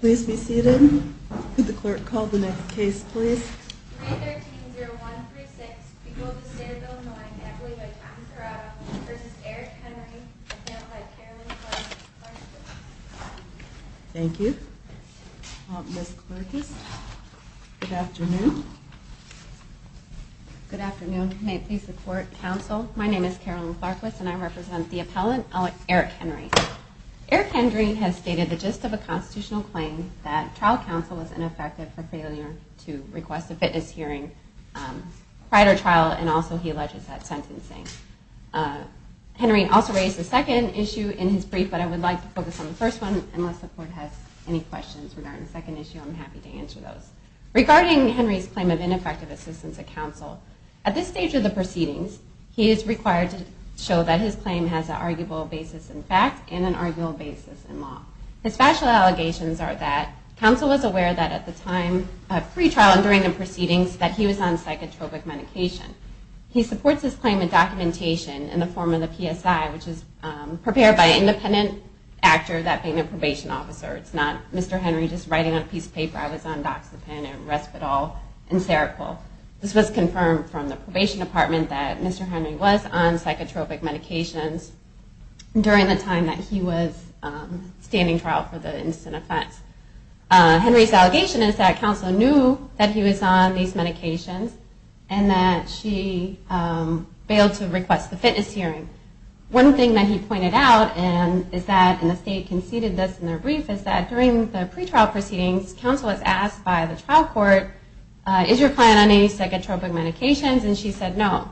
Please be seated. Could the clerk call the next case, please? 313-0136, People of the State of Illinois, Equally Bipartisan Crowd v. Eric Henry, Appellant by Carolyn Clarkwess. Thank you. Ms. Clarkwess, good afternoon. Good afternoon. May it please the Court, Counsel, my name is Carolyn Clarkwess and I represent the appellant, Eric Henry. Eric Henry has stated the gist of a constitutional claim that trial counsel was ineffective for failure to request a fitness hearing prior to trial and also he alleges that sentencing. Henry also raised a second issue in his brief, but I would like to focus on the first one unless the Court has any questions regarding the second issue, I'm happy to answer those. Regarding Henry's claim of ineffective assistance to counsel, at this stage of the proceedings, he is required to show that his claim has an arguable basis in fact and an arguable basis in law. His factual allegations are that counsel was aware that at the time of free trial and during the proceedings that he was on psychotropic medication. He supports his claim in documentation in the form of the PSI, which is prepared by an independent actor that being a probation officer. It's not Mr. Henry just writing on a piece of paper, I was on Doxepin and Respital and Serapol. This was confirmed from the probation department that Mr. Henry was on psychotropic medications during the time that he was standing trial for the incident offense. Henry's allegation is that counsel knew that he was on these medications and that she failed to request the fitness hearing. One thing that he pointed out, and the state conceded this in their brief, is that during the pre-trial proceedings, counsel was asked by the trial court, is your client on any psychotropic medications? And she said no.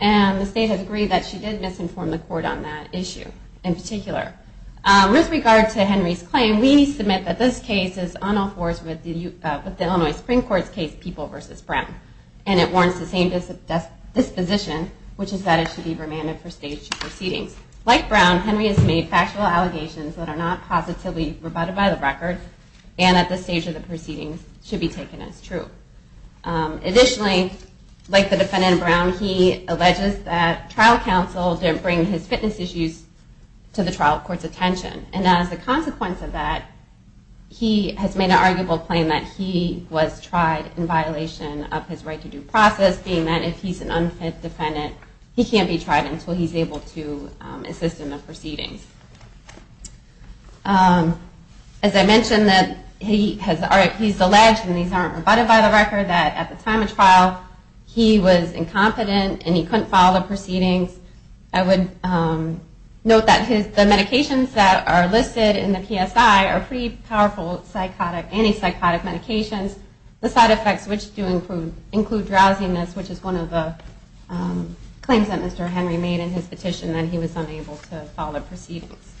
And the state has agreed that she did misinform the court on that issue in particular. With regard to Henry's claim, we submit that this case is on all fours with the Illinois Supreme Court's case of people versus Brown. And it warrants the same disposition, which is that it should be remanded for stage two proceedings. Like Brown, Henry has made factual allegations that are not positively rebutted by the record and at this stage of the proceedings should be taken as true. Additionally, like the defendant Brown, he alleges that trial counsel didn't bring his fitness issues to the trial court's attention. And as a consequence of that, he has made an arguable claim that he was tried in violation of his right-to-do process, being that if he's an unfit defendant, he can't be tried until he's able to assist in the proceedings. As I mentioned, he's alleged, and these aren't rebutted by the record, that at the time of trial, he was incompetent and he couldn't follow the proceedings. I would note that the medications that are listed in the PSI are pretty powerful psychotic, anti-psychotic medications. The side effects, which do include drowsiness, which is one of the claims that Mr. Henry made in his petition that he was unable to follow the proceedings.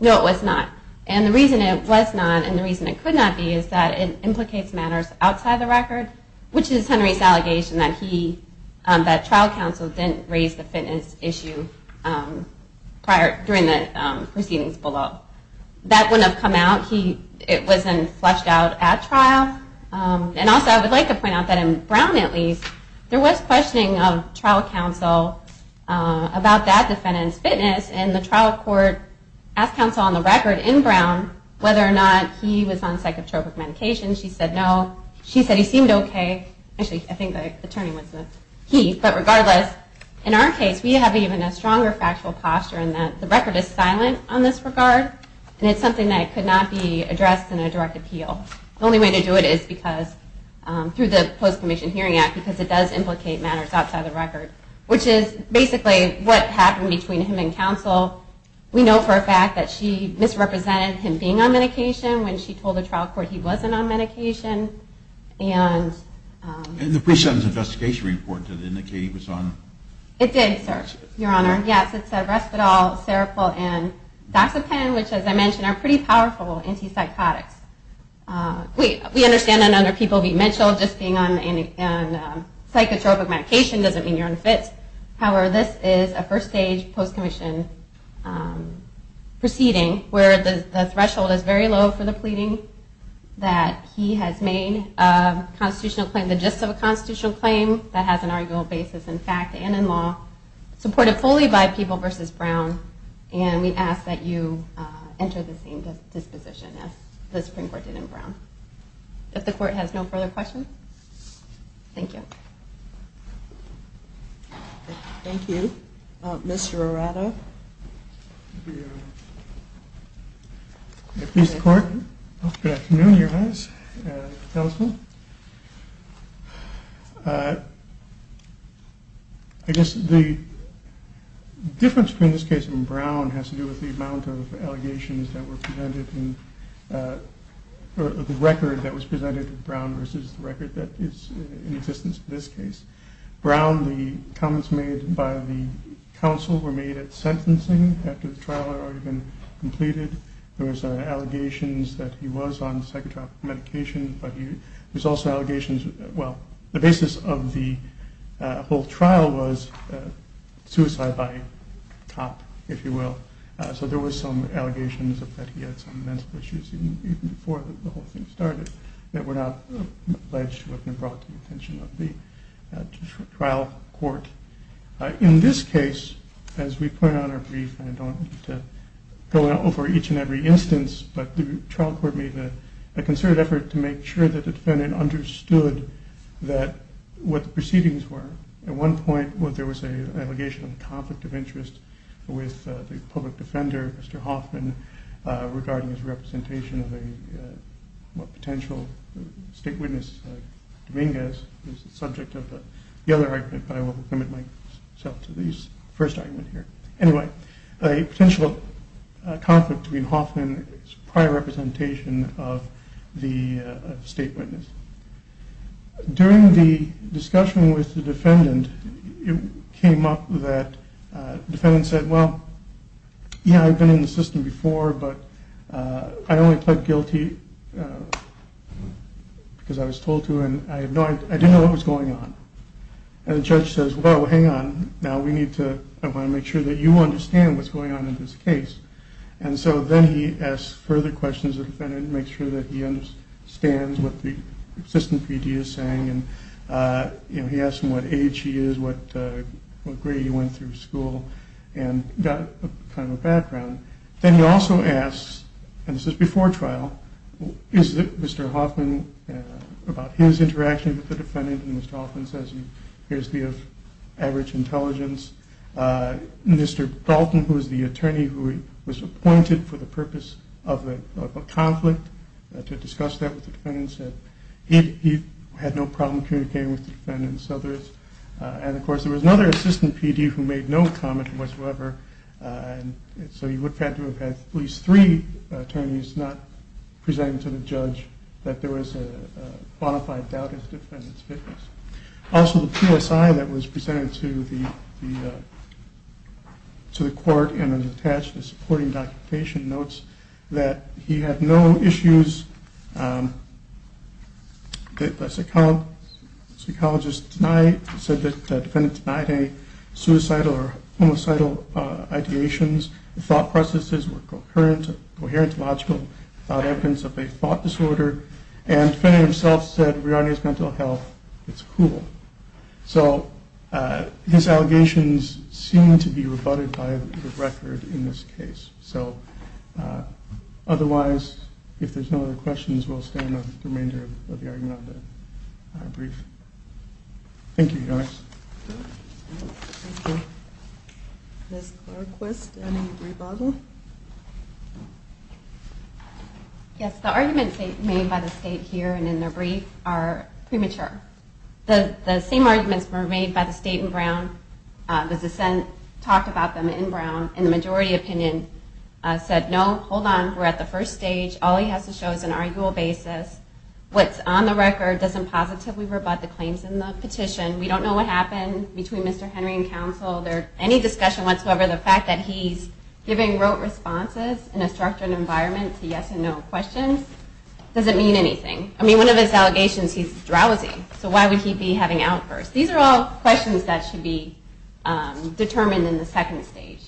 No, it was not. And the reason it was not and the reason it could not be is that it implicates matters outside the record, which is Henry's allegation that trial counsel didn't raise the fitness issue during the proceedings below. That wouldn't have come out. It wasn't fleshed out at trial. And also, I would like to point out that in Brown, at least, there was questioning of trial counsel about that defendant's fitness, and the trial court asked counsel on the record in Brown whether or not he was on psychotropic medications. She said no. She said he seemed okay. Actually, I think the attorney was a he. But regardless, in our case, we have even a stronger factual posture in that the record is silent on this regard, and it's something that could not be addressed in a direct appeal. The only way to do it is through the Post-Commissioned Hearing Act, because it does implicate matters outside the record, which is basically what happened between him and counsel. We know for a fact that she misrepresented him being on medication when she told the trial court he wasn't on medication, and... And the pre-sentence investigation report that indicated he was on... It did, sir, your honor. Yes, it said respital, Seroquel, and Doxepin, which, as I mentioned, are pretty powerful anti-psychotics. We understand that under people like Mitchell, just being on psychotropic medication doesn't mean you're unfit. However, this is a first stage Post-Commissioned proceeding where the threshold is very low for the pleading that he has made a constitutional claim, the gist of a constitutional claim that has an arguable basis in fact and in law, supported fully by People v. Brown, and we ask that you enter the same Thank you. Thank you. Mr. Arado? Good afternoon, your honor. I guess the difference between this case and Brown has to do with the amount of allegations that were presented in the record that was presented to Brown versus the record that is in existence in this case. Brown, the comments made by the counsel were made at sentencing after the trial had already been completed. There was allegations that he was on psychotropic medication, but there was also allegations, well, the basis of the whole trial was suicide by cop, if you will, so there were some allegations that he had some mental issues even before the whole thing started that were not alleged to have been brought to the attention of the trial court. In this case, as we point out in our brief, and I don't go over each and every instance, but the trial court made a concerted effort to make sure that the defendant understood what the proceedings were. At one point, there was an allegation of conflict of interest with the public defender, Mr. Hoffman, regarding his representation of a potential state witness, Dominguez, who is the subject of the other argument, but I will limit myself to the first argument here. Anyway, a potential conflict between Hoffman's prior representation of the state witness. During the discussion with the defendant, it came up that the defendant said, well, yeah, I've been in the system before, but I only pled guilty because I was told to and I didn't know what was going on. And the judge says, well, hang on, now we need to, I want to make sure that you understand what's going on in this case. And so then he asks further questions of the defendant to make sure that he understands what the assistant PD is saying, and he asks him what age he is, what grade he went through school, and got kind of a background. Then he also asks, and this is before trial, is Mr. Hoffman, about his interaction with the defendant, and Mr. Hoffman says he appears to be of average intelligence. Mr. Dalton, who is the attorney who was appointed for the purpose of a conflict, to discuss that with the defendants, he had no problem communicating with the defendants. And of course there was another assistant PD who made no comment. The PD attorney is not presenting to the judge that there was a bona fide doubt in the defendants' witness. Also, the PSI that was presented to the court and is attached to the supporting documentation notes that he had no issues that the psychologist denied. It said that the defendant denied any suicidal or homicidal ideations. The thought processes were coherent, logical, without evidence of a thought disorder. And the defendant himself said, regarding his mental health, it's cool. So his allegations seem to be rebutted by the record in this case. So otherwise, if there's no other questions, we'll stand on the remainder of the argument of the brief. Thank you. Ms. Clark-Quist, any rebuttal? Yes, the arguments made by the state here and in their brief are premature. The same arguments were made by the state in Brown. The dissent talked about them in Brown, and the majority opinion said, no, hold on, we're at the first stage. All he has to show is an arguable basis. What's on the record doesn't positively rebut the claims in the petition. We don't know what happened between Mr. Henry and counsel. There's any discussion whatsoever. The fact that he's giving rote responses in a structured environment to yes and no questions doesn't mean anything. I mean, one of his allegations, he's drowsy. So why would he be having outbursts? These are all questions that should be determined in the second stage.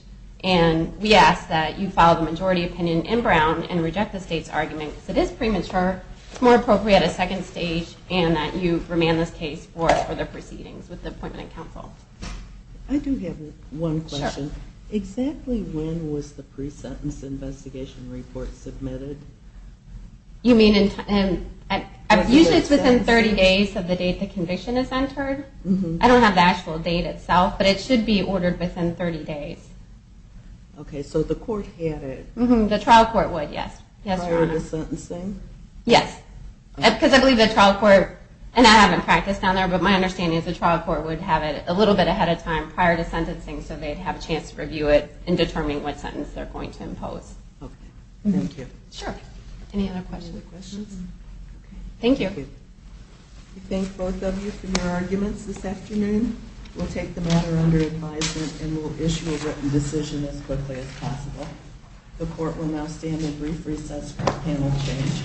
And we ask that you follow the majority opinion in Brown and reject the state's argument because it is premature. It's more appropriate a second stage and that you remand this case for further proceedings with the appointment of counsel. I do have one question. Exactly when was the pre-sentence investigation report submitted? Usually it's within 30 days of the date the conviction is entered. I don't have the actual date itself, but it should be ordered within 30 days. Okay, so the court had it. The trial court would, yes. Prior to sentencing? Yes. Because I believe the trial court, and I haven't practiced down there, but my understanding is the trial court would have it a little bit ahead of time prior to sentencing so they'd have a chance to review it and determine what sentence they're going to impose. Thank you. Sure. Any other questions? Thank you. We thank both of you for your arguments this afternoon. We'll take the matter under advisement and we'll issue a written decision as quickly as possible. The court will now stand in brief recess for panel change.